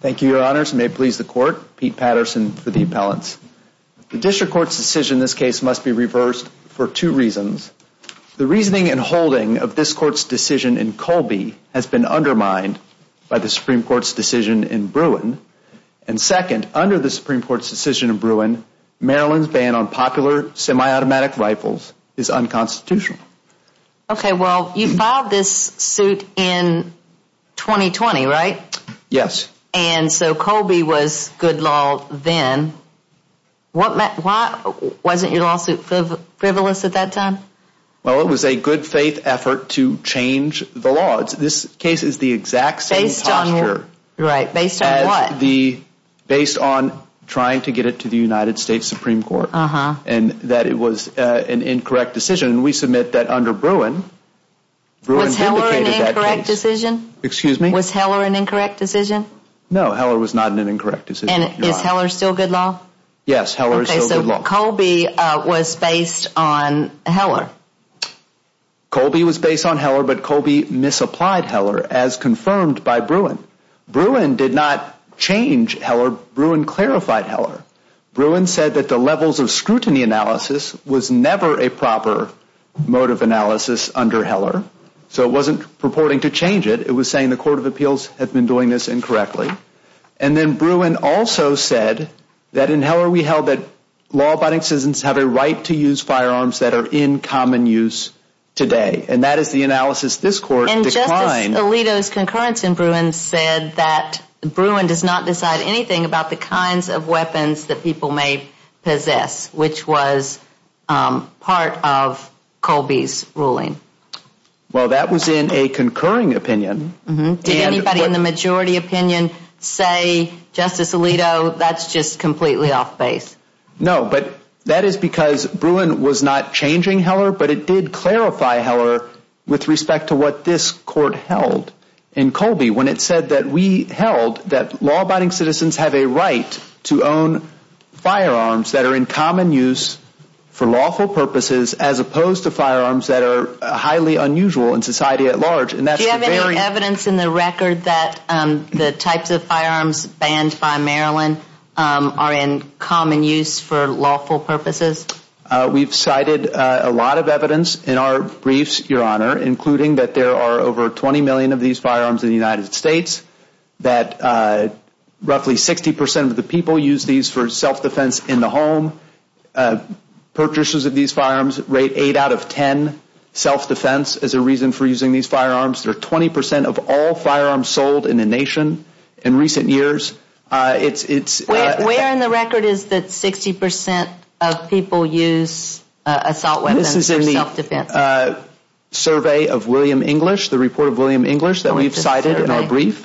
Thank you, your honors. May it please the court. Pete Patterson for the appellants. The district court's decision in this case must be reversed for two reasons. The reasoning and holding of this court's decision in Colby has been undermined by the Supreme Court's decision in Bruin. And second, under the Supreme Court's decision in Bruin, Maryland's ban on popular semi-automatic rifles is unconstitutional. Okay, well, you filed this suit in 2020, right? Yes. And so Colby was good law then. Wasn't your lawsuit frivolous at that time? Well, it was a good faith effort to change the law. This case is the exact same posture. Based on what? Based on trying to get it to the United States Supreme Court and that it was an incorrect decision. And we submit that under No, Heller was not an incorrect decision. And is Heller still good law? Yes, Heller is still good law. Okay, so Colby was based on Heller. Colby was based on Heller, but Colby misapplied Heller as confirmed by Bruin. Bruin did not change Heller. Bruin clarified Heller. Bruin said that the levels of scrutiny analysis was never a proper mode of analysis under Heller. So it wasn't purporting to change it. It was saying the Court of Appeals had been doing this incorrectly. And then Bruin also said that in Heller we held that law-abiding citizens have a right to use firearms that are in common use today. And that is the analysis this Court declined. And Justice Alito's concurrence in Bruin said that Bruin does not decide anything about the kinds of weapons that people may possess, which was part of Colby's ruling. Well, that was in a concurring opinion. Did anybody in the majority opinion say, Justice Alito, that's just completely off base? No, but that is because Bruin was not changing Heller, but it did clarify Heller with respect to what this Court held in Colby when it said that we held that law-abiding citizens have a right to own firearms that are in common use for lawful purposes as opposed to firearms that are highly unusual in society at large. Do you have any evidence in the record that the types of firearms banned by Maryland are in common use for lawful purposes? We've cited a lot of evidence in our briefs, Your Honor, including that there are over 20 million of these firearms in the United States, that roughly 60 percent of the people use these for 8 out of 10 self-defense as a reason for using these firearms. They're 20 percent of all firearms sold in the nation in recent years. Where in the record is that 60 percent of people use assault weapons for self-defense? This is in the survey of William English, the report of William English that we've cited in our brief,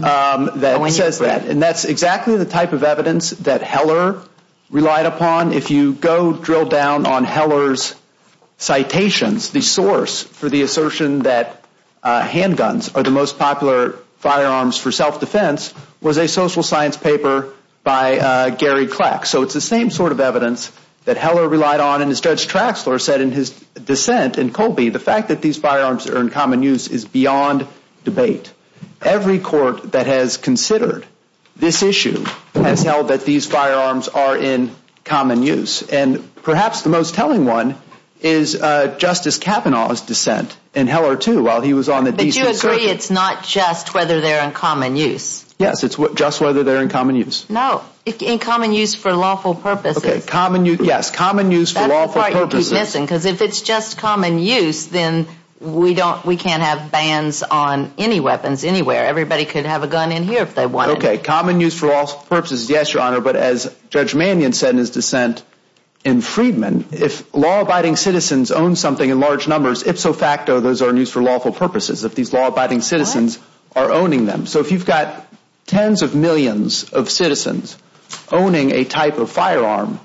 that says that. And that's exactly the type of citations, the source for the assertion that handguns are the most popular firearms for self-defense was a social science paper by Gary Kleck. So it's the same sort of evidence that Heller relied on and as Judge Traxler said in his dissent in Colby, the fact that these firearms are in common use is beyond debate. Every court that has considered this issue has held that these firearms are in common use. And that is Justice Kavanaugh's dissent in Heller, too, while he was on the decent search. But you agree it's not just whether they're in common use? Yes, it's just whether they're in common use. No, in common use for lawful purposes. Okay, common use, yes, common use for lawful purposes. That's the part you keep missing, because if it's just common use, then we don't, we can't have bans on any weapons anywhere. Everybody could have a gun in here if they wanted. Okay, common use for purposes, yes, Your Honor, but as Judge Mannion said in his dissent in Freedman, if law-abiding citizens own something in large numbers, ipso facto, those are in use for lawful purposes, if these law-abiding citizens are owning them. So if you've got tens of millions of citizens owning a type of firearm,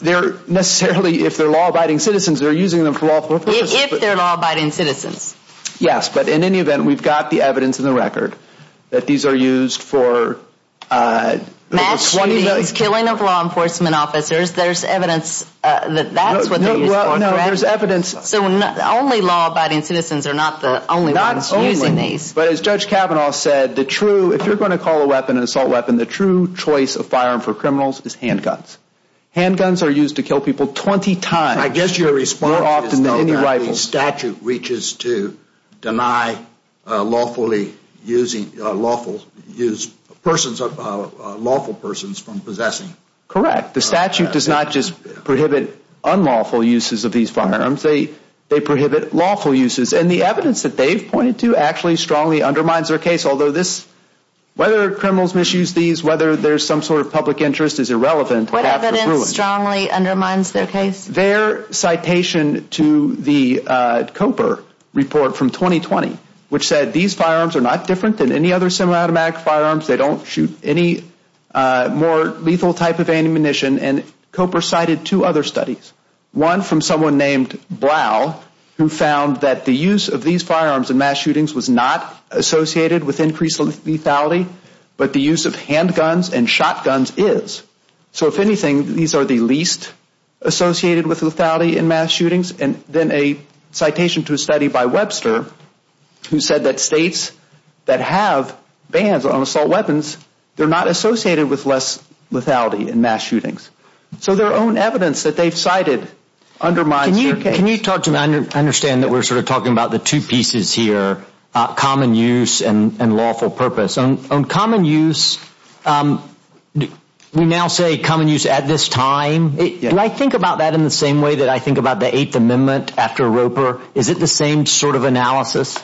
they're necessarily, if they're law-abiding citizens, they're using them for lawful purposes. If they're law-abiding citizens. Yes, but in any event, we've got the evidence in the record that these are used for, uh, killing of law enforcement officers. There's evidence that that's what they're used for. No, there's evidence. So only law-abiding citizens are not the only ones using these. But as Judge Kavanaugh said, the true, if you're going to call a weapon an assault weapon, the true choice of firearm for criminals is handguns. Handguns are used to kill people 20 times. I guess your response is that the statute reaches to deny lawfully using, uh, lawful, use persons, uh, lawful persons from possessing. Correct. The statute does not just prohibit unlawful uses of these firearms. They, they prohibit lawful uses. And the evidence that they've pointed to actually strongly undermines their case. Although this, whether criminals misuse these, whether there's some sort of public interest is irrelevant. What evidence strongly undermines their case? Their citation to the, uh, COPER report from 2020, which said these firearms are not different than any other semi-automatic firearms. They don't shoot any, uh, more lethal type of ammunition. And COPER cited two other studies. One from someone named Blau, who found that the use of these firearms in mass shootings was not associated with increased lethality, but the use of handguns and shotguns is. So if anything, these are the least associated with lethality in mass shootings. And then a citation to a study by Webster, who said that states that have bans on assault weapons, they're not associated with less lethality in mass shootings. So their own evidence that they've cited undermines their case. Can you talk to me, I understand that we're sort of talking about the two pieces here, common use and lawful purpose. On common use, um, we now say common use at this time. Do I think about that in the same way that I think about the Eighth Amendment after ROPER? Is it the same sort of analysis?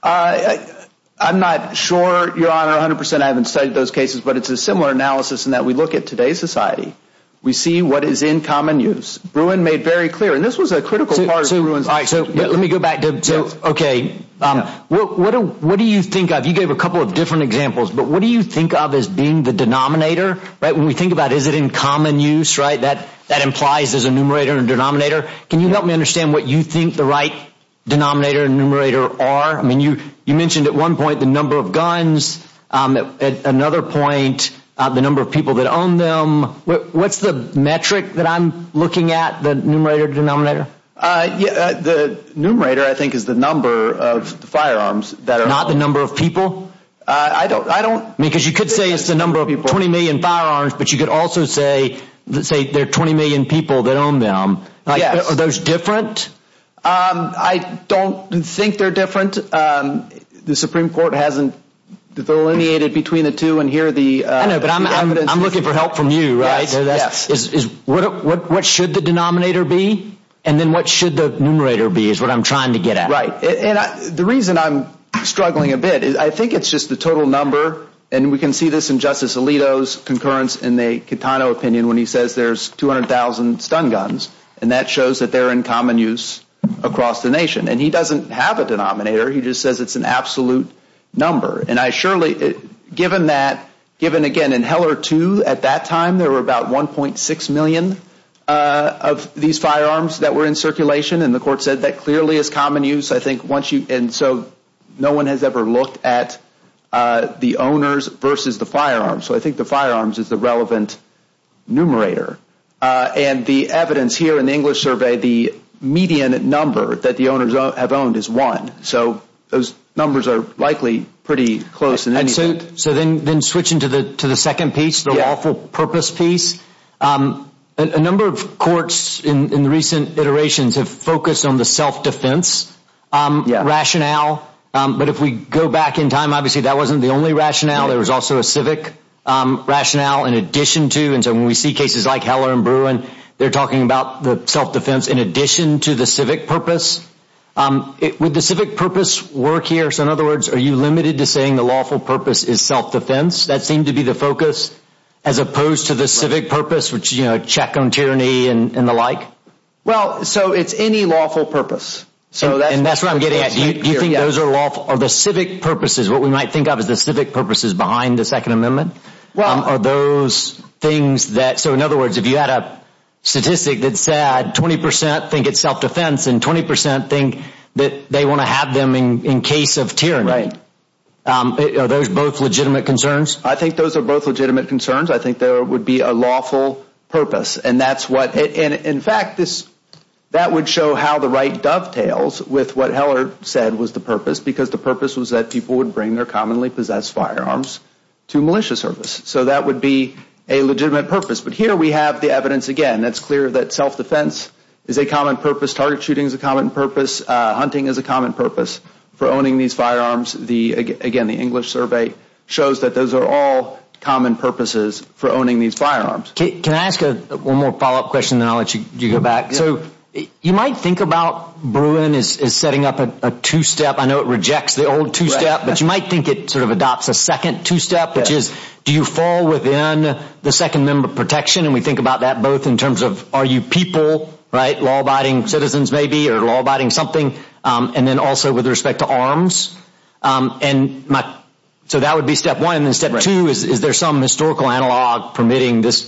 Uh, I, I'm not sure, your honor, a hundred percent. I haven't studied those cases, but it's a similar analysis in that we look at today's society. We see what is in common use. Bruin made very clear, and this was a critical part of Bruin's. All right. So let me go back to, so, okay. Um, what, what do, what do you think of, you gave a couple of different examples, but what do you think of as being the denominator, right? When we think about, is it in common use, right? That, that implies there's a numerator and denominator. Can you help me understand what you think the right denominator and numerator are? I mean, you, you mentioned at one point, the number of guns, um, at another point, uh, the number of people that own them. What's the metric that I'm looking at? The numerator, denominator? Uh, yeah. The numerator, I think, is the number of firearms that are not the number of people. Uh, I don't, I don't mean, cause you could say it's the number of people, 20 million firearms, but you could also say, say there are 20 million people that own them. Yes. Are those different? Um, I don't think they're different. Um, the Supreme Court hasn't delineated between the two, and here are the, uh, evidence. I know, but I'm, I'm, I'm looking for help from you, right? Yes, yes. Is, is, what, what, what should the denominator be? And then what should the numerator be, is what I'm trying to get at. Right. And I, the reason I'm struggling a bit is, I think it's just the total number, and we can see this in Justice Alito's concurrence, in the Catano opinion, when he says there's 200,000 stun guns, and that shows that they're in common use across the nation. And he doesn't have a denominator, he just says it's an absolute number. And I surely, given that, given again, in Heller 2, at that time, there were about 1.6 million, uh, of these firearms that were in circulation, and the court said that clearly is common use. I think once you, and so no one has ever looked at, uh, the owners versus the relevant numerator. Uh, and the evidence here in the English survey, the median number that the owners have owned is one. So those numbers are likely pretty close in any event. And so, so then, then switching to the, to the second piece, the lawful purpose piece, um, a number of courts in, in recent iterations have focused on the self-defense, um, rationale. Um, but if we go back in time, obviously that wasn't the only rationale. There was also a civic, um, rationale in addition to, and so when we see cases like Heller and Bruin, they're talking about the self-defense in addition to the civic purpose. Um, would the civic purpose work here? So in other words, are you limited to saying the lawful purpose is self-defense? That seemed to be the focus as opposed to the civic purpose, which, you know, check on tyranny and the like? Well, so it's any lawful purpose. So that's... And that's what I'm getting at. Do you think those are lawful? Are the civic purposes, what we might think of as the civic purposes behind the second amendment, um, are those things that, so in other words, if you had a statistic that said 20% think it's self-defense and 20% think that they want to have them in, in case of tyranny, um, are those both legitimate concerns? I think those are both legitimate concerns. I think there would be a lawful purpose and that's what, and in fact this, that would show how the right dovetails with what Heller said was the purpose because the purpose was that people would bring their commonly possessed firearms to militia service. So that would be a legitimate purpose. But here we have the evidence again that's clear that self-defense is a common purpose, target shooting is a common purpose, uh, hunting is a common purpose for owning these firearms. The, again, the English survey shows that those are all common purposes for owning these firearms. Can I ask one more follow-up question and then I'll let you go back? So you might think about Bruin is, is setting up a two-step. I know it rejects the old two-step, but you might think it sort of adopts a second two-step, which is do you fall within the second member protection? And we think about that both in terms of are you people, right, law-abiding citizens maybe, or law-abiding something, um, and then also with respect to arms. Um, and my, so that would be step one. And then step two is, is there some historical analog permitting this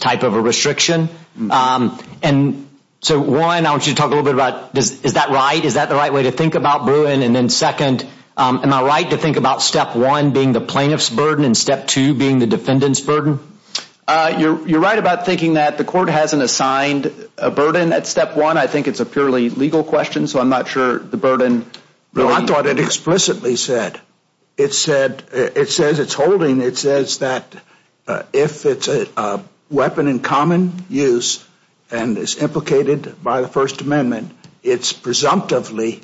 So one, I want you to talk a little bit about does, is that right? Is that the right way to think about Bruin? And then second, um, am I right to think about step one being the plaintiff's burden and step two being the defendant's burden? Uh, you're, you're right about thinking that the court hasn't assigned a burden at step one. I think it's a purely legal question, so I'm not sure the burden. Well, I thought it explicitly said, it said, it says it's holding, it says that if it's a, a weapon in common use and is implicated by the First Amendment, it's presumptively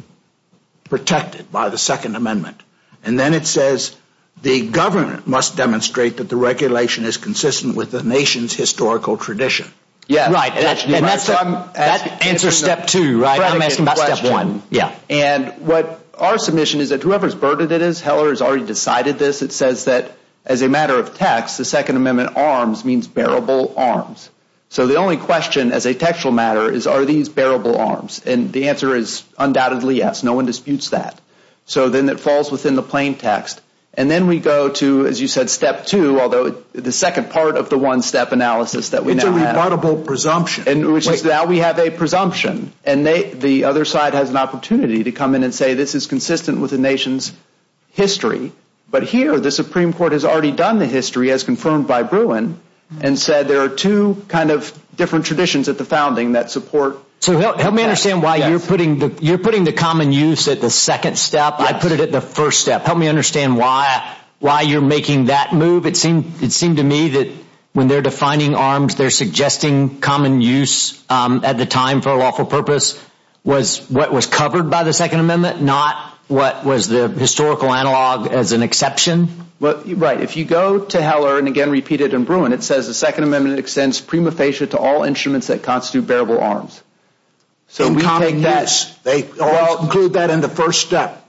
protected by the Second Amendment. And then it says the government must demonstrate that the regulation is consistent with the nation's historical tradition. Yeah, right. And that's, and that's, that answers step two, right? I'm asking about step one. Yeah. And what our submission is that whoever's burden it is, Heller has already decided this. It says that as a matter of text, the Second Amendment arms means bearable arms. So the only question as a textual matter is, are these bearable arms? And the answer is undoubtedly yes. No one disputes that. So then it falls within the plain text. And then we go to, as you said, step two, although the second part of the one step analysis that we now have. It's a rebuttable presumption. And which is now we have a presumption and they, the other side has an opportunity to come in and say, this is consistent with the nation's history. But here the Supreme Court has already done the history as confirmed by Bruin and said, there are two kind of different traditions at the founding that support. So help me understand why you're putting the, you're putting the common use at the second step. I put it at the first step. Help me understand why, why you're making that move. It seemed, it seemed to me that when they're defining arms, they're suggesting common use, um, at the time for lawful purpose was what was covered by the second amendment, not what was the historical analog as an exception. Well, right. If you go to Heller and again, repeat it in Bruin, it says the second amendment extends prima facie to all instruments that constitute bearable arms. So we take that. They all include that in the first step.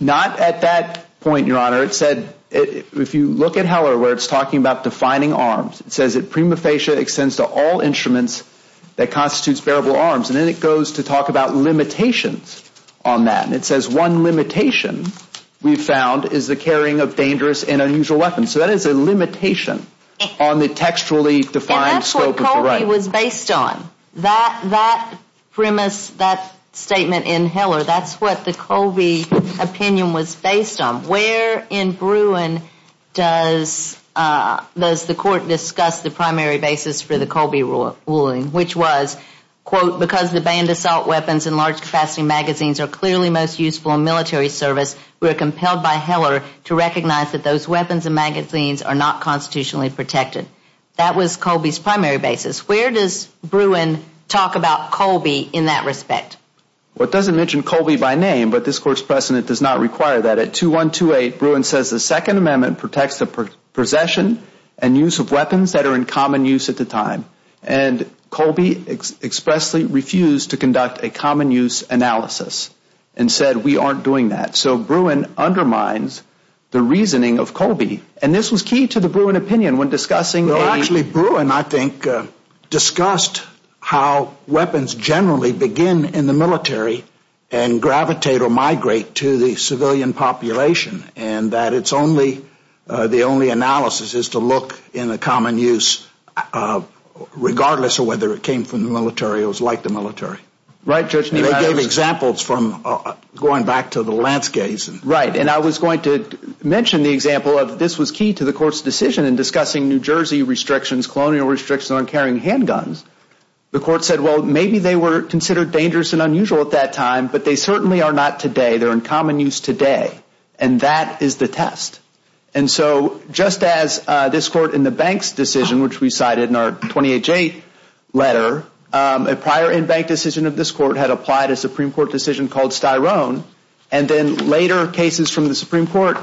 Not at that point, your honor. It said, if you look at Heller, where it's talking about defining arms, it says that prima facie extends to all instruments that constitutes bearable arms. And then it goes to talk about limitations on that. And it says one limitation we've found is the carrying of dangerous and unusual weapons. So that is a limitation on the textually defined scope of the right. And that's what Colby was based on. That, that premise, that statement in Heller, that's what the Colby opinion was based on. Where in Bruin does, does the court discuss the primary basis for the Colby ruling, which was, quote, because the banned assault weapons and large capacity magazines are clearly most useful in military service, we are compelled by Heller to recognize that those weapons and magazines are not constitutionally protected. That was Colby's primary basis. Where does Bruin talk about Colby in that respect? Well, it doesn't mention Colby by name, but this court's precedent does not require that. At 2128, Bruin says the Second Amendment protects the possession and use of weapons that are in common use at the time. And Colby expressly refused to conduct a common use analysis and said we aren't doing that. So Bruin undermines the reasoning of Colby. And this was key to the Bruin opinion when discussing a... Well, actually, Bruin, I think, discussed how weapons generally begin in the military and gravitate or migrate to the civilian population, and that it's only, the only analysis is to look in the common use, regardless of whether it came from the military or was like the military. Right, Judge... And they gave examples from going back to the Lanskys. Right, and I was going to mention the example of this was key to the court's decision in discussing New Jersey restrictions, colonial restrictions on carrying handguns. The court said, well, maybe they were considered dangerous and unusual at that time, but they certainly are not today. They're in common use today. And that is the test. And so just as this court in the Banks decision, which we cited in our 28-8 letter, a prior in-bank decision of this court had applied a Supreme Court decision called Styrone, and then later cases from the Supreme Court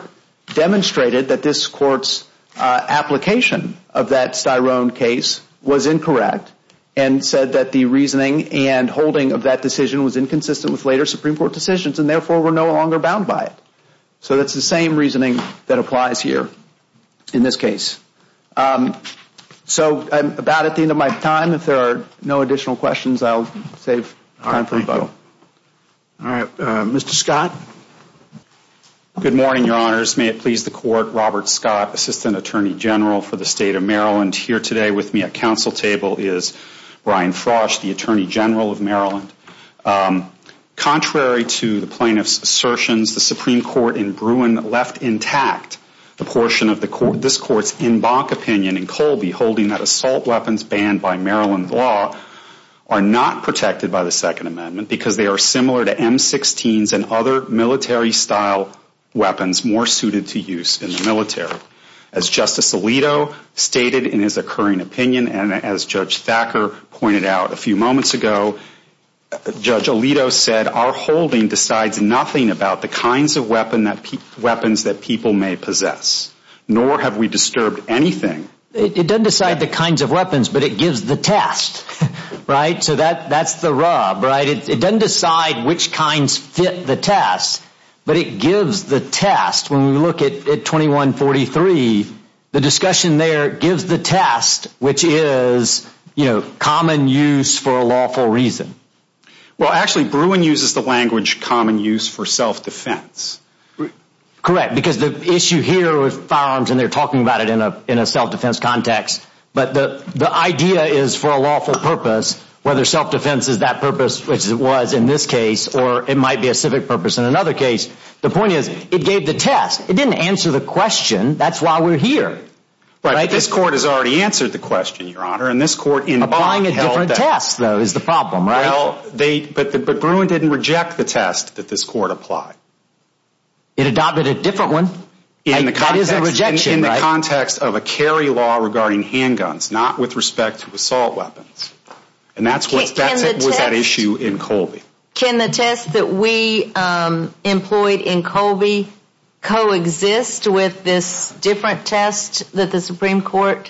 demonstrated that this court's application of that Styrone case was incorrect and said that the reasoning and holding of that decision was inconsistent with later Supreme Court decisions and therefore were no longer bound by it. So that's the same reasoning that applies here in this case. So I'm about at the end of my time. If there are no additional questions, I'll save time for rebuttal. All right, Mr. Scott. Good morning, Your Honors. May it please the Court, Robert Scott, Assistant Attorney General for the State of Maryland. Here today with me at council table is Brian Frosch, the Attorney General of Maryland. Contrary to the plaintiff's assertions, the Supreme Court in Bruin left intact the portion of this court's in-bank opinion in Colby holding that assault weapons banned by Maryland law are not protected by the Second Amendment because they are similar to M-16s and other military-style weapons more suited to use in the military. As Justice Alito stated in his occurring opinion, and as Judge Thacker pointed out a few moments ago, Judge Alito said, our holding decides nothing about the kinds of weapons that people may possess, nor have we disturbed anything. It doesn't decide the kinds of weapons, but it gives the test, right? So that's the rub, right? It doesn't decide which kinds fit the test, but it gives the test. When we look at 2143, the discussion there gives the test, which is common use for a lawful reason. Well, actually, Bruin uses the language common use for self-defense. Correct, because the issue here with firearms, and they're talking about it in a self-defense context, but the idea is for a lawful purpose, whether self-defense is that purpose, which it was in this case, or it might be a civic purpose in another case. The point is, it gave the test. It didn't answer the question. That's why we're here. Right, but this court has already answered the question, Your Honor, and this court in- Applying a different test, though, is the problem, right? Well, but Bruin didn't reject the test that this court applied. It adopted a different one. That is a rejection, right? Not with respect to assault weapons, and that was that issue in Colby. Can the test that we employed in Colby coexist with this different test that the Supreme Court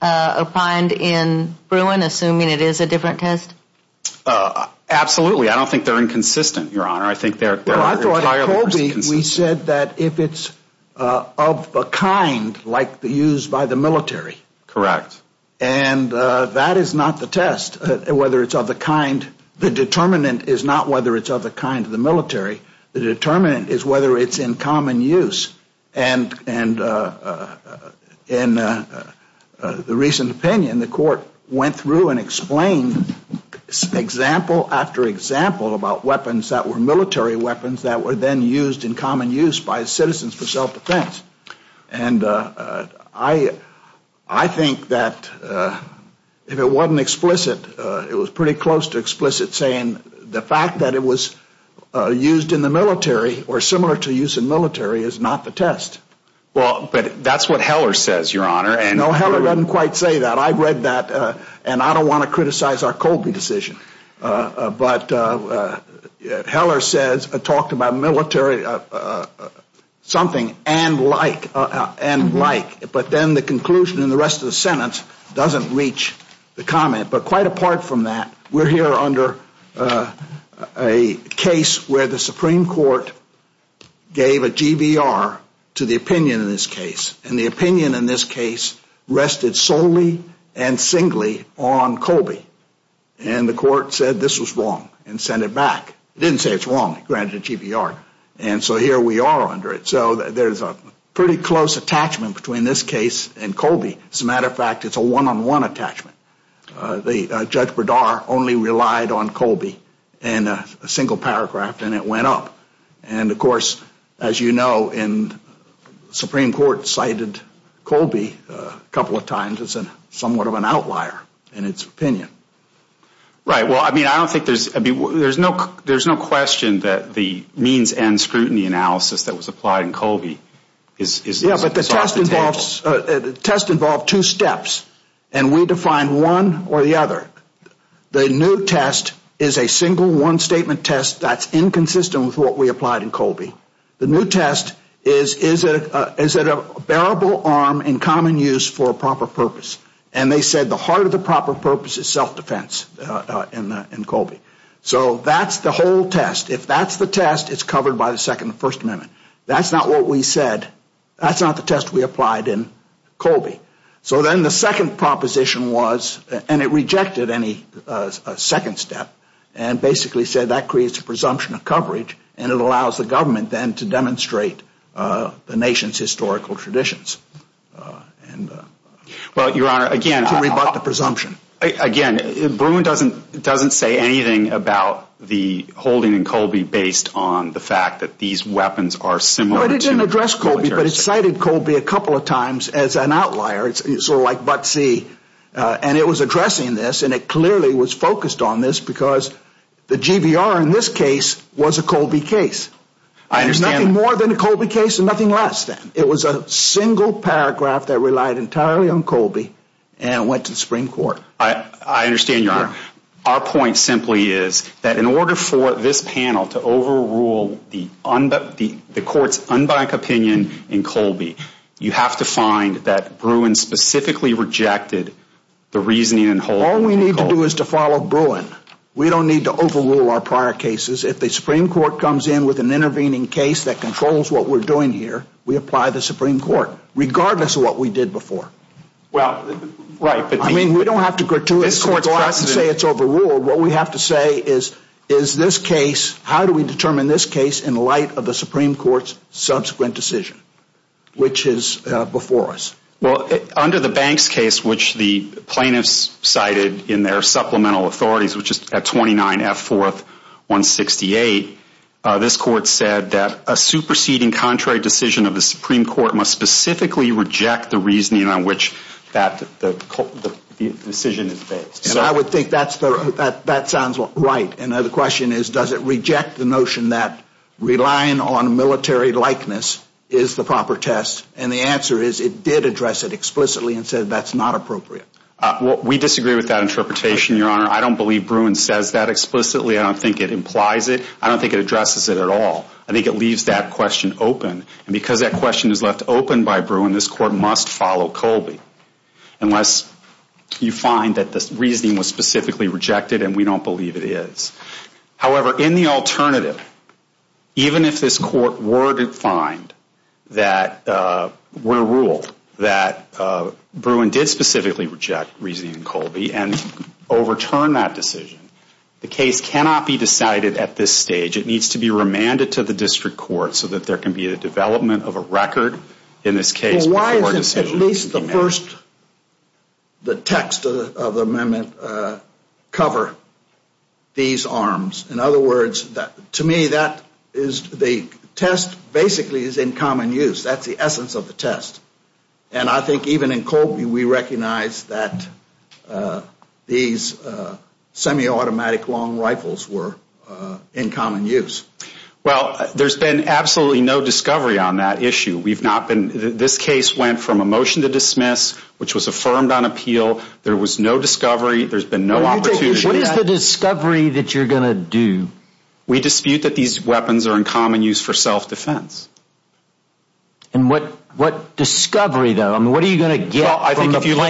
applied in Bruin, assuming it is a different test? Absolutely. I don't think they're inconsistent, Your Honor. I think they're entirely inconsistent. We said that if it's of a kind, like used by the military. Correct. And that is not the test, whether it's of the kind. The determinant is not whether it's of the kind of the military. The determinant is whether it's in common use. And in the recent opinion, the court went through and explained example after example about weapons that were common use by citizens for self-defense. And I think that if it wasn't explicit, it was pretty close to explicit saying the fact that it was used in the military or similar to use in military is not the test. Well, but that's what Heller says, Your Honor, and- No, Heller doesn't quite say that. I've read that, and I don't want to criticize our Colby decision. But Heller says, talked about military something and like, and like, but then the conclusion in the rest of the sentence doesn't reach the comment. But quite apart from that, we're here under a case where the Supreme Court gave a GBR to the opinion in this case. And the opinion in this case rested solely and singly on Colby. And the court said this was wrong and sent it back. Didn't say it's wrong, granted a GBR. And so here we are under it. So there's a pretty close attachment between this case and Colby. As a matter of fact, it's a one-on-one attachment. The Judge Berdar only relied on Colby in a single paragraph, and it went up. And of course, as you know, in the Supreme Court cited Colby a couple of times as somewhat of an outlier in its opinion. Right. Well, I mean, I don't think there's, I mean, there's no, there's no question that the means and scrutiny analysis that was applied in Colby is- Yeah, but the test involves, the test involved two steps, and we define one or the other. The new test is a single one statement test that's inconsistent with what we applied in Colby. The new test is, is it, is it a bearable arm in common use for a proper purpose? And they said the heart of the proper purpose is self-defense in Colby. So that's the whole test. If that's the test, it's covered by the Second and First Amendment. That's not what we said. That's not the test we applied in Colby. So then the second proposition was, and it rejected any second step, and basically said that creates a presumption of coverage, and it allows the nation to demonstrate the nation's historical traditions. And- Well, Your Honor, again- To rebut the presumption. Again, Bruin doesn't, doesn't say anything about the holding in Colby based on the fact that these weapons are similar to- Well, it didn't address Colby, but it cited Colby a couple of times as an outlier. It's sort of like Buttsy, and it was addressing this, and it clearly was focused on this because the GVR in this case was a Colby case. I understand- Nothing more than a Colby case and nothing less than. It was a single paragraph that relied entirely on Colby and went to the Supreme Court. I understand, Your Honor. Our point simply is that in order for this panel to overrule the court's unbiased opinion in Colby, you have to find that Bruin specifically rejected the reasoning and holding in Colby. All we need to do is to follow Bruin. We don't need to overrule our prior cases. If the Supreme Court comes in with an intervening case that controls what we're doing here, we apply the Supreme Court, regardless of what we did before. Well, right, but- I mean, we don't have to gratuitously go out and say it's overruled. What we have to say is, is this case, how do we determine this case in light of the Supreme Court's subsequent decision, which is before us? Well, under the Banks case, which the plaintiffs cited in their supplemental authorities, which is at 29 F. 4th, 168, this court said that a superseding contrary decision of the Supreme Court must specifically reject the reasoning on which that decision is based. And I would think that sounds right. And the question is, does it reject the notion that relying on military likeness is the proper test? And the answer is, it did address it explicitly and said that's not appropriate. We disagree with that interpretation, Your Honor. I don't believe Bruin says that explicitly. I don't think it implies it. I don't think it addresses it at all. I think it leaves that question open. And because that question is left open by Bruin, this court must follow Colby unless you find that this reasoning was specifically rejected and we don't believe it is. However, in the alternative, even if this court were to find that we're ruled that Bruin did specifically reject reasoning in Colby and overturn that decision, the case cannot be decided at this stage. It needs to be remanded to the district court so that there can be the development of a record in this case before decision can be made. Well, why is it at least the first, the text of the amendment cover these arms? In other words, to me that is the test basically is in common use. That's the essence of the test. And I think even in Colby we recognize that these semi-automatic long rifles were in common use. Well, there's been absolutely no discovery on that issue. We've not been, this case went from a motion to dismiss, which was affirmed on appeal, there was no discovery, there's been no opportunity. What is the discovery that you're going to do? We dispute that these weapons are in common use for self-defense. And what discovery though? I mean, what are you going to get from the plaintiffs? Well,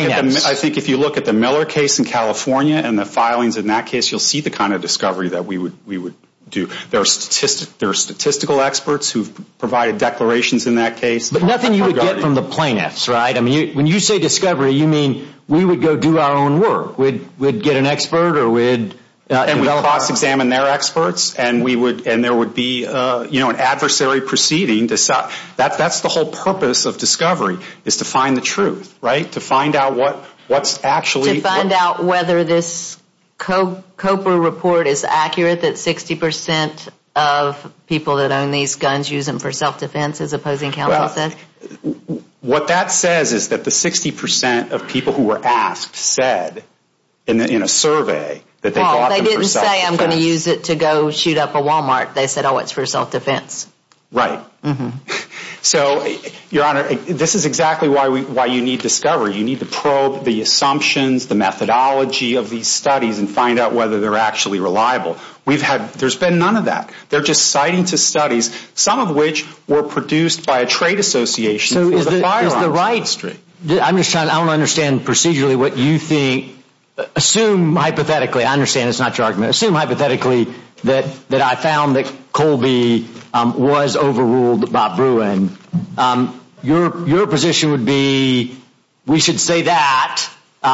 I think if you look at the Miller case in California and the filings in that case, you'll see the kind of discovery that we would do. There are statistical experts who've provided declarations in that case. But nothing you would get from the plaintiffs, right? I mean, when you say discovery, you mean we would go do our own work. We'd get an expert or we'd develop our own. And we'd cross-examine their experts and there would be an adversary proceeding. That's the whole purpose of discovery, is to find the truth, right? To find out what's actually... To find out whether this COPA report is accurate that 60% of people that own these guns use them for self-defense, as opposing counsel said? What that says is that the 60% of people who were asked said in a survey that they bought them for self-defense. I'm going to use it to go shoot up a Walmart. They said, oh, it's for self-defense. Right. So, Your Honor, this is exactly why you need discovery. You need to probe the assumptions, the methodology of these studies and find out whether they're actually reliable. We've had... There's been none of that. They're just citing to studies, some of which were produced by a trade association for the firearms industry. I'm just trying... I don't understand procedurally what you think... Hypothetically, I understand it's not your argument. Assume hypothetically that I found that Colby was overruled by Bruin. Your position would be, we should say that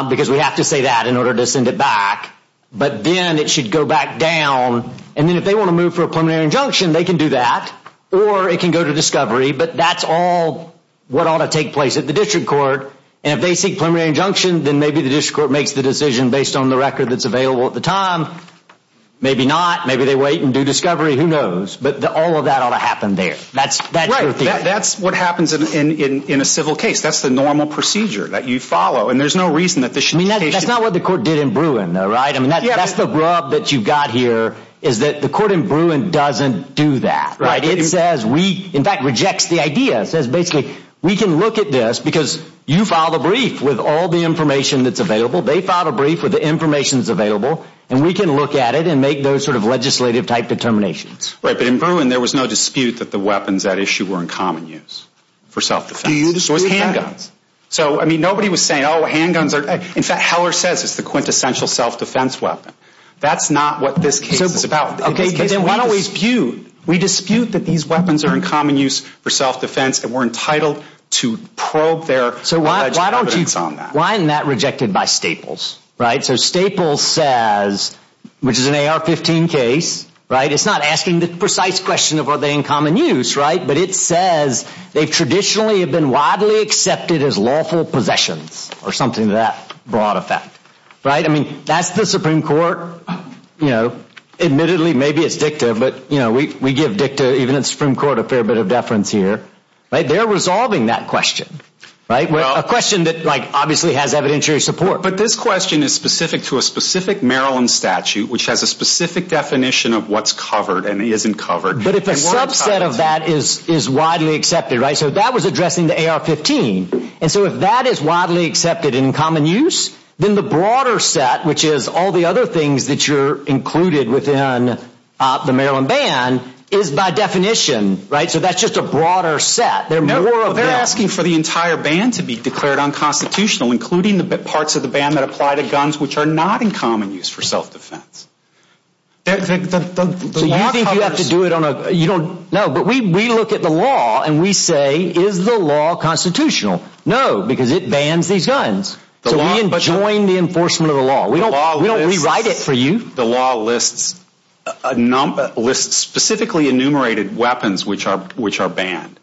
because we have to say that in order to send it back. But then it should go back down. And then if they want to move for a preliminary injunction, they can do that. Or it can go to discovery. But that's all what ought to take place at the district court. And if they seek preliminary injunction, then maybe the district court makes the decision based on the record that's available at the time. Maybe not. Maybe they wait and do discovery. Who knows? But all of that ought to happen there. That's your theory. That's what happens in a civil case. That's the normal procedure that you follow. And there's no reason that the... I mean, that's not what the court did in Bruin though, right? I mean, that's the grub that you've got here is that the court in Bruin doesn't do that. It says we... In fact, rejects the idea. It says, basically, we can look at this because you filed a brief with all the information that's available. They filed a brief with the information that's available. And we can look at it and make those sort of legislative type determinations. Right. But in Bruin, there was no dispute that the weapons at issue were in common use for self-defense. So it was handguns. So, I mean, nobody was saying, oh, handguns are... In fact, Heller says it's the quintessential self-defense weapon. That's not what this case is about. Okay. Then why don't we dispute? We dispute that these weapons are in common use for self-defense and we're entitled to probe their alleged evidence on that. Why isn't that rejected by Staples, right? So Staples says, which is an AR-15 case, right? It's not asking the precise question of are they in common use, right? But it says they've traditionally have been widely accepted as lawful possessions or something to that broad effect, right? I mean, that's the Supreme Court. Admittedly, maybe it's dicta, but we give dicta, even in the Supreme Court, a fair bit of deference here, right? They're resolving that question, right? A question that obviously has evidentiary support. But this question is specific to a specific Maryland statute, which has a specific definition of what's covered and isn't covered. But if a subset of that is widely accepted, right? So that was addressing the AR-15. And so if that is widely accepted in common use, then the broader set, which is all the other things that you're right? So that's just a broader set. They're asking for the entire ban to be declared unconstitutional, including the parts of the ban that apply to guns, which are not in common use for self-defense. So you think you have to do it on a, you don't know, but we, we look at the law and we say, is the law constitutional? No, because it bans these guns. So we enjoin the enforcement of the law. We don't, we don't rewrite it for you. The law lists a number, lists specifically enumerated weapons, which are, which are banned.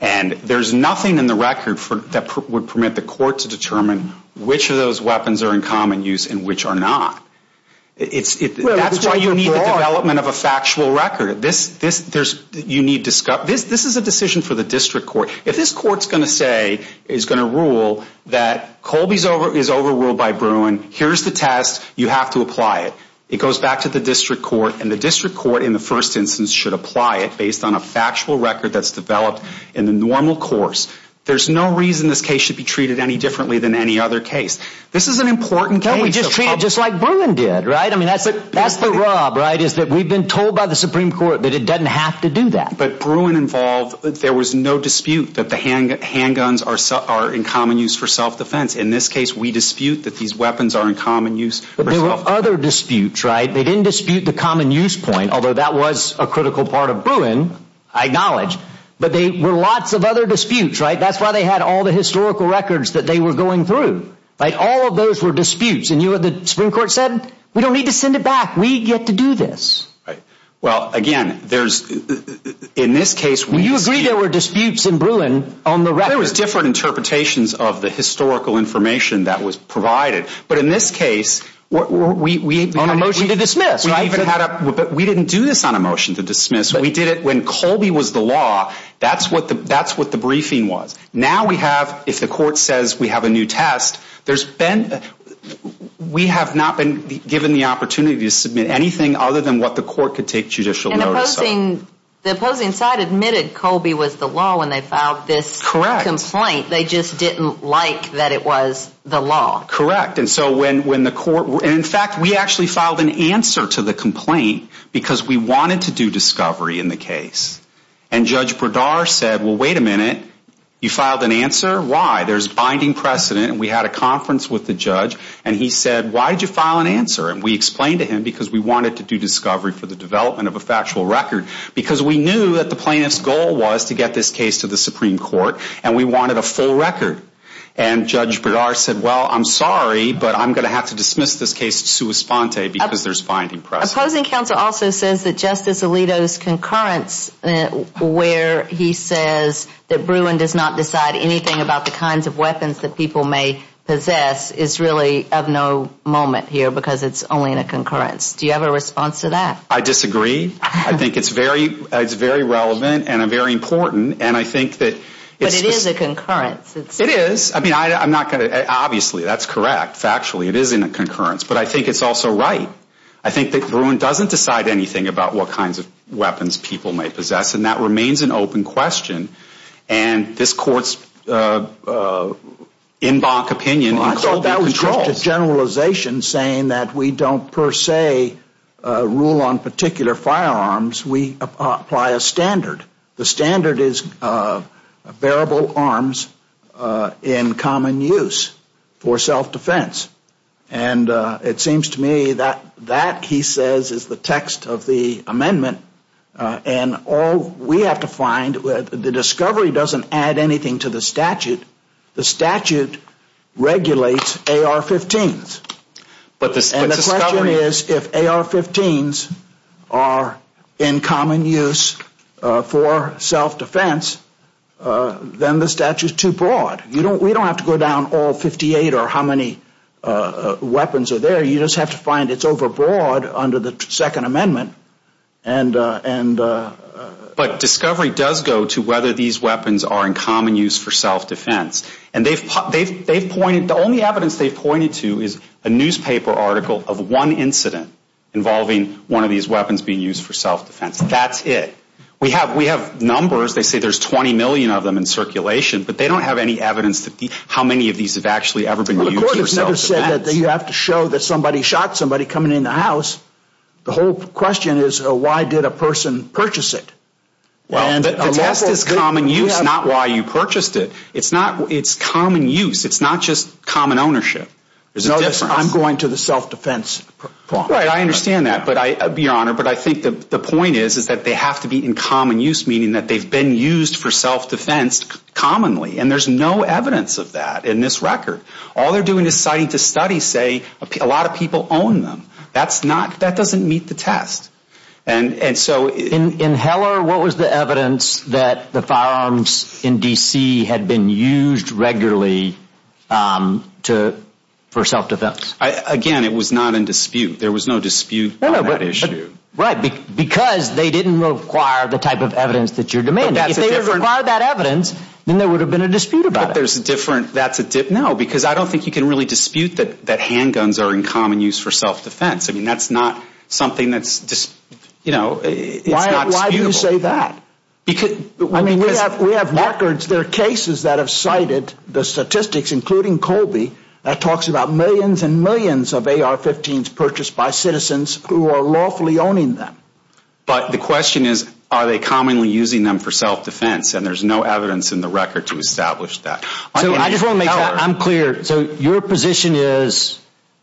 And there's nothing in the record for, that would permit the court to determine which of those weapons are in common use and which are not. It's, that's why you need the development of a factual record. This, this, there's, you need, this, this is a decision for the district court. If this court's going to say, is going to rule that Colby's over, is overruled by Bruin, here's the test. You have to apply it. It goes back to the district court and the district court in the first instance should apply it based on a factual record that's developed in the normal course. There's no reason this case should be treated any differently than any other case. This is an important case. Don't we just treat it just like Bruin did, right? I mean, that's the, that's the rob, right, is that we've been told by the Supreme Court that it doesn't have to do that. But Bruin involved, there was no dispute that the handguns are, are in common use for self-defense. In this case, we dispute that these weapons are in common use for self-defense. Other disputes, right? They didn't dispute the common use point, although that was a critical part of Bruin, I acknowledge, but they were lots of other disputes, right? That's why they had all the historical records that they were going through, right? All of those were disputes. And you had, the Supreme Court said, we don't need to send it back. We get to do this, right? Well, again, there's, in this case, we agree there were disputes in Bruin on the record. There was different interpretations of the historical information that was provided. But in this case, we, we, we. On a motion to dismiss, right? We even had a, we didn't do this on a motion to dismiss. We did it when Colby was the law. That's what the, that's what the briefing was. Now we have, if the court says we have a new test, there's been, we have not been given the opportunity to submit anything other than what the court could take judicial notice of. And the opposing, the opposing side admitted they just didn't like that it was the law. Correct. And so when, when the court, in fact, we actually filed an answer to the complaint because we wanted to do discovery in the case. And Judge Bradar said, well, wait a minute. You filed an answer? Why? There's binding precedent. And we had a conference with the judge and he said, why did you file an answer? And we explained to him because we wanted to do discovery for the development of a factual record because we knew that the plaintiff's goal was to get this to the Supreme Court and we wanted a full record. And Judge Bradar said, well, I'm sorry, but I'm going to have to dismiss this case to sua sponte because there's binding precedent. Opposing counsel also says that Justice Alito's concurrence where he says that Bruin does not decide anything about the kinds of weapons that people may possess is really of no moment here because it's only in a concurrence. Do you have a response to that? I disagree. I think it's very, it's very relevant and a very important. And I think that But it is a concurrence. It is. I mean, I'm not going to, obviously, that's correct. Factually, it is in a concurrence. But I think it's also right. I think that Bruin doesn't decide anything about what kinds of weapons people may possess. And that remains an open question. And this court's en banc opinion Well, I thought that was just a generalization saying that we don't per se rule on particular firearms. We apply a standard. The standard is bearable arms in common use for self-defense. And it seems to me that that, he says, is the text of the amendment. And all we have to find, the discovery doesn't add anything to the statute. The statute regulates AR-15s. But the And the question is, if AR-15s are in common use for self-defense, then the statute is too broad. We don't have to go down all 58 or how many weapons are there. You just have to find it's overbroad under the second amendment. But discovery does go to whether these weapons are in common use for self-defense. And the only evidence they've pointed to is a newspaper article of one incident involving one of these weapons being used for self-defense. That's it. We have numbers. They say there's 20 million of them in circulation. But they don't have any evidence that how many of these have actually ever been used for self-defense. The court has never said that you have to show that somebody shot somebody coming in the house. The whole question is, why did a person purchase it? The test is common use, not why you purchased it. It's common use. It's not just common ownership. I'm going to the self-defense problem. I understand that, Your Honor. But I think the point is that they have to be in common use, meaning that they've been used for self-defense commonly. And there's no evidence of that in this record. All they're doing is citing the studies say a lot of people own them. That doesn't meet the test. And so... In Heller, what was the evidence that the firearms in D.C. had been used regularly for self-defense? Again, it was not in dispute. There was no dispute on that issue. Because they didn't require the type of evidence that you're demanding. If they required that evidence, then there would have been a dispute about it. But there's a different... No, because I don't think you can really dispute that it's not disputable. Why do you say that? We have records. There are cases that have cited the statistics, including Colby, that talks about millions and millions of AR-15s purchased by citizens who are lawfully owning them. But the question is, are they commonly using them for self-defense? And there's no evidence in the record to establish that. I just want to make sure I'm clear. Your position is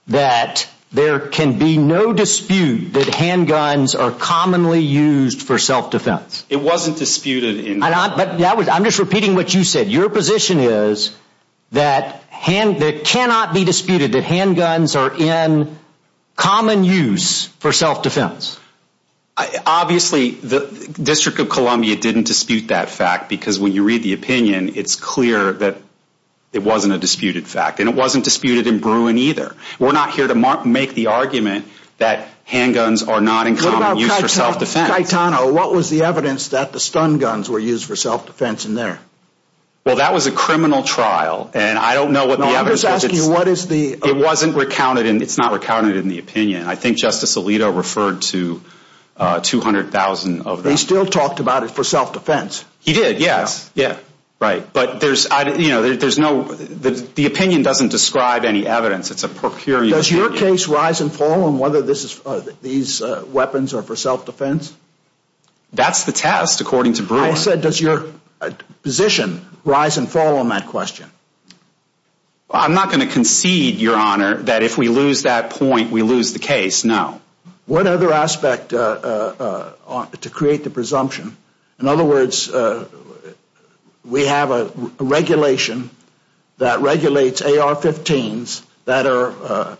that there can be no dispute that handguns are commonly used for self-defense. It wasn't disputed. I'm just repeating what you said. Your position is that it cannot be disputed that handguns are in common use for self-defense. Obviously, the District of Columbia didn't dispute that fact. Because when you read the opinion, it's clear that it wasn't a disputed fact. And it wasn't disputed in Bruin either. We're not here to make the argument that handguns are not in common use for self-defense. What about Caetano? What was the evidence that the stun guns were used for self-defense in there? Well, that was a criminal trial. And I don't know what the evidence... No, I'm just asking, what is the... It wasn't recounted, and it's not recounted in the opinion. I think Justice Alito referred to 200,000 of them. He still talked about it for self-defense. He did, yes, yeah. Right. But there's no... The opinion doesn't describe any evidence. It's a per curiam opinion. Does your case rise and fall on whether these weapons are for self-defense? That's the test, according to Bruin. I said, does your position rise and fall on that question? I'm not going to concede, Your Honor, that if we lose that point, we lose the case. No. What other aspect to create the presumption? In other words, we have a regulation that regulates AR-15s that are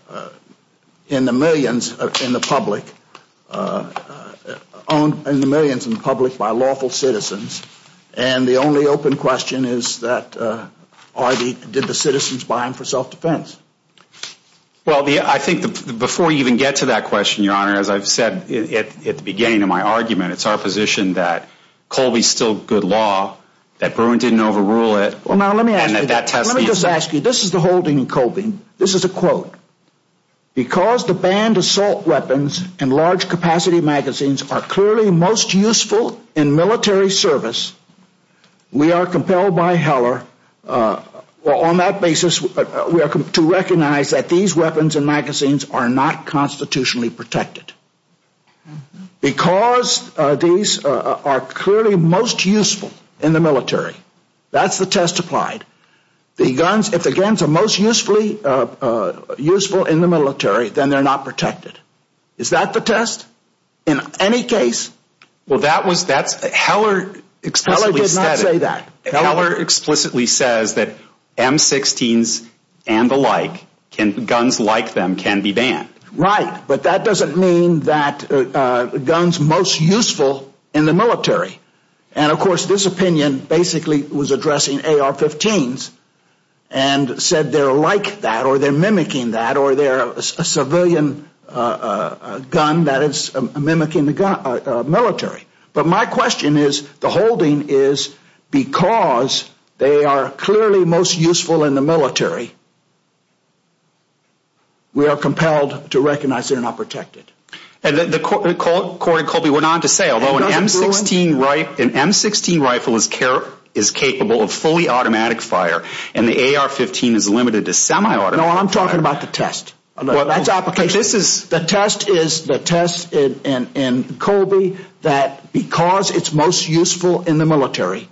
in the millions in the public, owned in the millions in the public by lawful citizens. And the only open question is that, did the citizens buy them for self-defense? Well, I think before you even get to that question, Your Honor, as I've said at the beginning of my argument, it's our position that Colby's still good law, that Bruin didn't overrule it, and that that test... Let me just ask you, this is the whole thing, Colby. This is a quote. Because the banned assault weapons and large capacity magazines are clearly most useful in military service, we are compelled by Heller, on that basis, to recognize that these weapons and magazines are not constitutionally protected. Because these are clearly most useful in the military, that's the test applied. The guns, if the guns are most useful in the military, then they're not protected. Is that the test in any case? Well, that was, that's, Heller... Heller did not say that. Heller explicitly says that M-16s and the like, guns like them can be banned. Right, but that doesn't mean that guns most useful in the military. And of course, this opinion basically was addressing AR-15s and said they're like that, or they're mimicking that, or they're a civilian a gun that is mimicking the gun, military. But my question is, the holding is, because they are clearly most useful in the military, we are compelled to recognize they're not protected. And the quote, Colby went on to say, although an M-16 rifle is capable of fully automatic fire, and the AR-15 is limited to semi-automatic fire... No, I'm talking about the test. Well, that's application. But this is... The test is, the test in Colby, that because it's most useful in the military,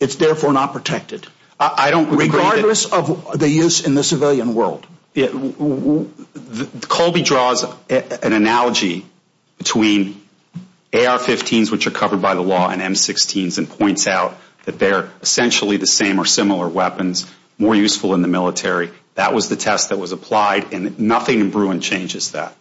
it's therefore not protected. I don't... Regardless of the use in the civilian world. Colby draws an analogy between AR-15s, which are covered by the law, and M-16s and points out that they're essentially the same or similar weapons, more useful in the military. That was the test that was applied, and nothing in Bruin changes that.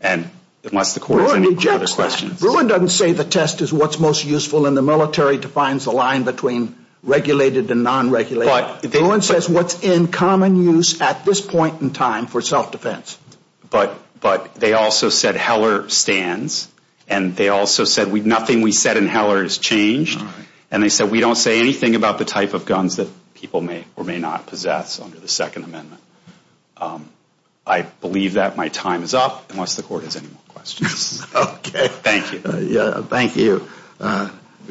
And unless the court has any other questions... Bruin doesn't say the test is what's most useful in the military, defines the line between regulated and non-regulated. Bruin says what's in common use at this point in time for self-defense. But they also said Heller stands. And they also said, nothing we said in Heller has changed. And they said, we don't say anything about the type of guns that or may not possess under the Second Amendment. I believe that my time is up, unless the court has any more questions. Okay, thank you. Yeah, thank you.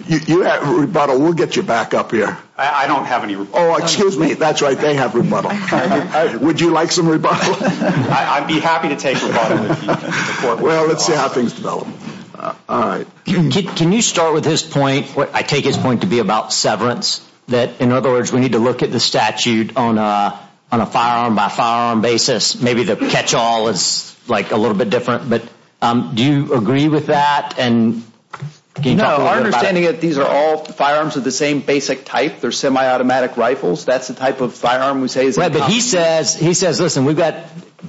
You have rebuttal. We'll get you back up here. I don't have any rebuttal. Oh, excuse me. That's right. They have rebuttal. Would you like some rebuttal? I'd be happy to take rebuttal if you can afford me. Well, let's see how things develop. All right. Can you start with his point? I take his point to be about severance. That, in other words, we need to look at the statute on a firearm by firearm basis. Maybe the catch-all is like a little bit different. But do you agree with that? No, our understanding is these are all firearms of the same basic type. They're semi-automatic rifles. That's the type of firearm we say is in common use. He says, listen, we've got,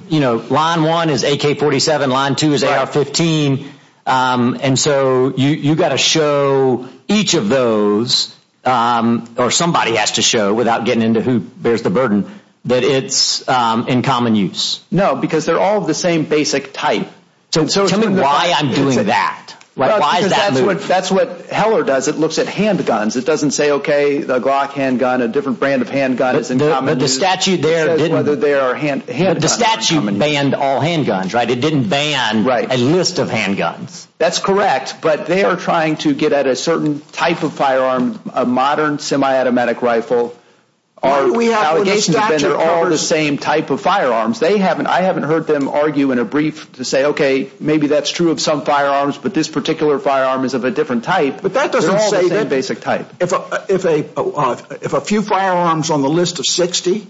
you know, line one is AK-47. Line two is AR-15. And so you've got to show each of those, or somebody has to show, without getting into who bears the burden, that it's in common use. No, because they're all the same basic type. So tell me why I'm doing that. That's what Heller does. It looks at handguns. It doesn't say, OK, the Glock handgun, a different brand of handgun is in common use. But the statute there didn't. Whether they are handguns. The statute banned all handguns, right? It didn't ban a list of handguns. That's correct. But they are trying to get at a certain type of firearm. A modern semi-automatic rifle. Our allegations have been they're all the same type of firearms. They haven't, I haven't heard them argue in a brief to say, OK, maybe that's true of some firearms, but this particular firearm is of a different type. But that doesn't say that basic type. If a few firearms on the list of 60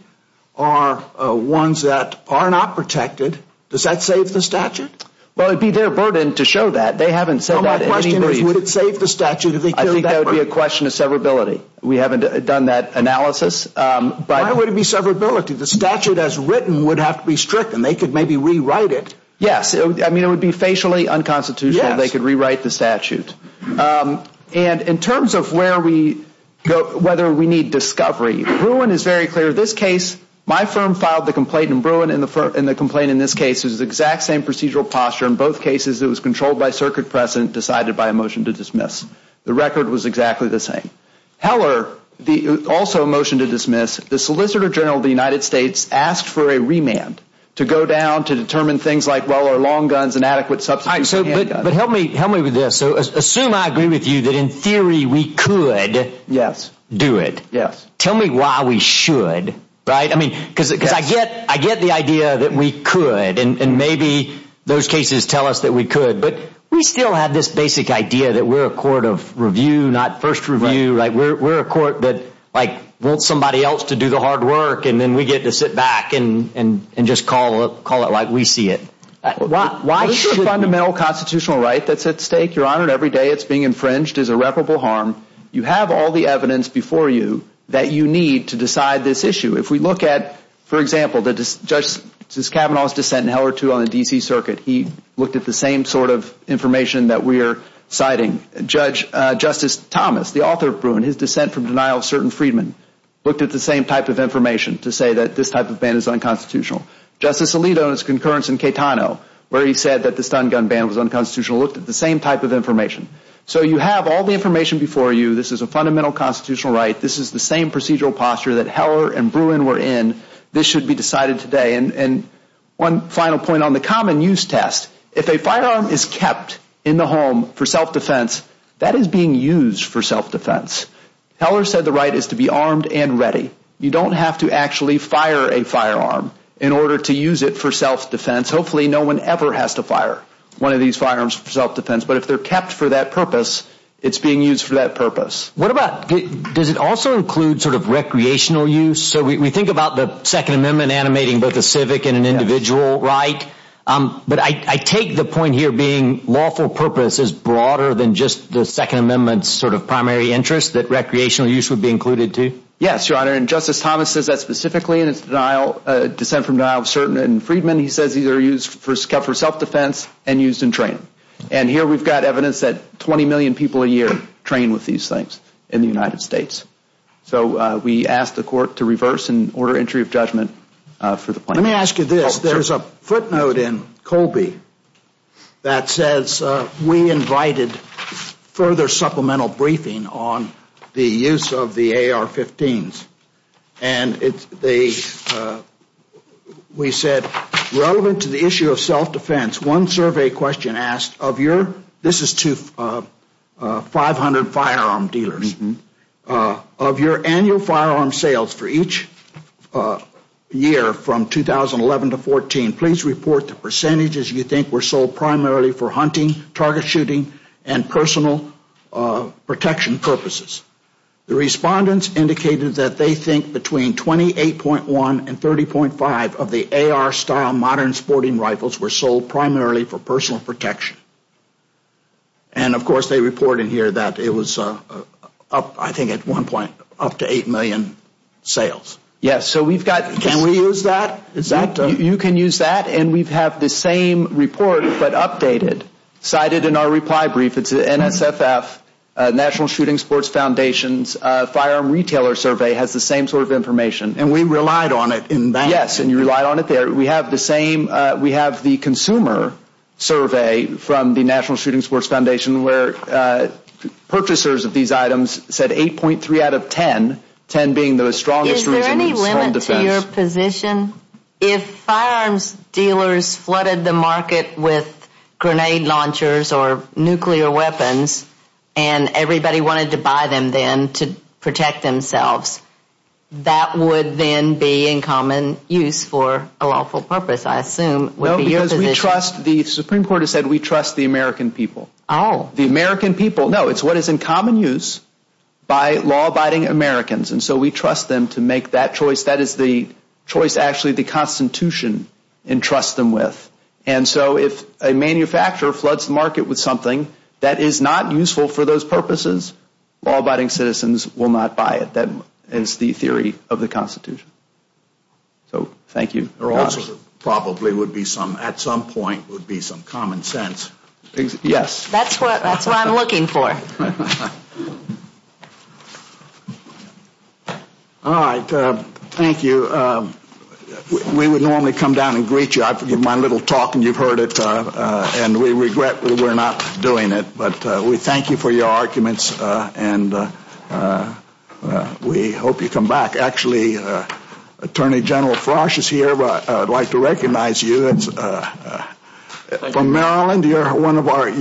are ones that are not protected, does that save the statute? Well, it'd be their burden to show that. They haven't said that. My question is, would it save the statute? I think that would be a question of severability. We haven't done that analysis. But why would it be severability? The statute as written would have to be strict and they could maybe rewrite it. Yes. I mean, it would be facially unconstitutional. They could rewrite the statute. And in terms of where we go, whether we need discovery, Bruin is very clear. My firm filed the complaint in Bruin and the complaint in this case is the exact same procedural posture in both cases. It was controlled by circuit precedent, decided by a motion to dismiss. The record was exactly the same. Heller, also a motion to dismiss. The Solicitor General of the United States asked for a remand to go down to determine things like well or long guns and adequate substitute handguns. But help me with this. So assume I agree with you that in theory we could do it. Yes. Tell me why we should, right? I mean, because I get the idea that we could and maybe those cases tell us that we could. But we still have this basic idea that we're a court of review, not first review, right? We're a court that like wants somebody else to do the hard work and then we get to sit back and just call it like we see it. Why is this a fundamental constitutional right that's at stake? Your Honor, every day it's being infringed is irreparable harm. You have all the evidence before you that you need to decide this issue. If we look at, for example, the judge, since Kavanaugh's dissent in Heller too on the D.C. circuit, he looked at the same sort of information that we're citing. Judge, Justice Thomas, the author of Bruin, his dissent from denial of certain freedmen looked at the same type of information to say that this type of ban is unconstitutional. Justice Alito's concurrence in Caetano where he said that the stun gun ban was unconstitutional looked at the same type of information. So you have all the information before you. This is a fundamental constitutional right. This is the same procedural posture that Heller and Bruin were in. This should be decided today. And one final point on the common use test. If a firearm is kept in the home for self-defense, that is being used for self-defense. Heller said the right is to be armed and ready. You don't have to actually fire a firearm in order to use it for self-defense. Hopefully no one ever has to fire one of these firearms for self-defense. But if they're kept for that purpose, it's being used for that purpose. What about, does it also include sort of recreational use? So we think about the Second Amendment animating both a civic and an individual right. But I take the point here being lawful purpose is broader than just the Second Amendment's sort of primary interest that recreational use would be included too. Yes, Your Honor. And Justice Thomas says that specifically in his dissent from denial of certain freedmen. He says these are used for self-defense and used in training. And here we've got evidence that 20 million people a year train with these things in the United States. So we ask the Court to reverse and order entry of judgment for the plaintiff. Let me ask you this. There's a footnote in Colby that says we invited further supplemental briefing on the use of the AR-15s. And we said relevant to the issue of self-defense, one survey question asked of your, this is to 500 firearm dealers, of your annual firearm sales for each year from 2011 to 2014, please report the percentages you think were sold primarily for hunting, target shooting, and personal protection purposes. The respondents indicated that they think between 28.1 and 30.5 of the AR-style modern rifles were sold primarily for personal protection. And of course they report in here that it was, I think at one point, up to 8 million sales. Yes, so we've got. Can we use that? You can use that. And we have the same report but updated. Cited in our reply brief, it's NSFF, National Shooting Sports Foundation's firearm retailer survey has the same sort of information. And we relied on it in that. Yes, and you relied on it there. We have the same, we have the consumer survey from the National Shooting Sports Foundation where purchasers of these items said 8.3 out of 10, 10 being the strongest reasons. Is there any limit to your position? If firearms dealers flooded the market with grenade launchers or nuclear weapons and everybody wanted to buy them then to protect themselves, that would then be in common use for a lawful purpose, I assume. No, because we trust, the Supreme Court has said we trust the American people. Oh. The American people, no, it's what is in common use by law-abiding Americans. And so we trust them to make that choice. That is the choice actually the Constitution entrusts them with. And so if a manufacturer floods the market with something that is not useful for those purposes, law-abiding citizens will not buy it. That is the theory of the Constitution. So, thank you. There also probably would be some, at some point, would be some common sense. Yes. That's what I'm looking for. All right, thank you. We would normally come down and greet you. I forgive my little talk and you've heard it and we regret that we're not doing it. But we thank you for your arguments and we hope you come back. Actually, Attorney General Frosch is here, but I'd like to recognize you. From Maryland, you're one of our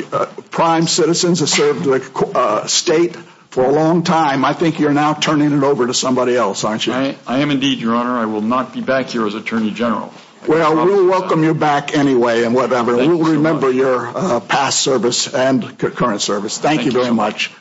prime citizens that served the state for a long time. I think you're now turning it over to somebody else, aren't you? I am indeed, Your Honor. I will not be back here as Attorney General. Well, we'll welcome you back anyway and whatever. We'll remember your past service and current service. Thank you very much.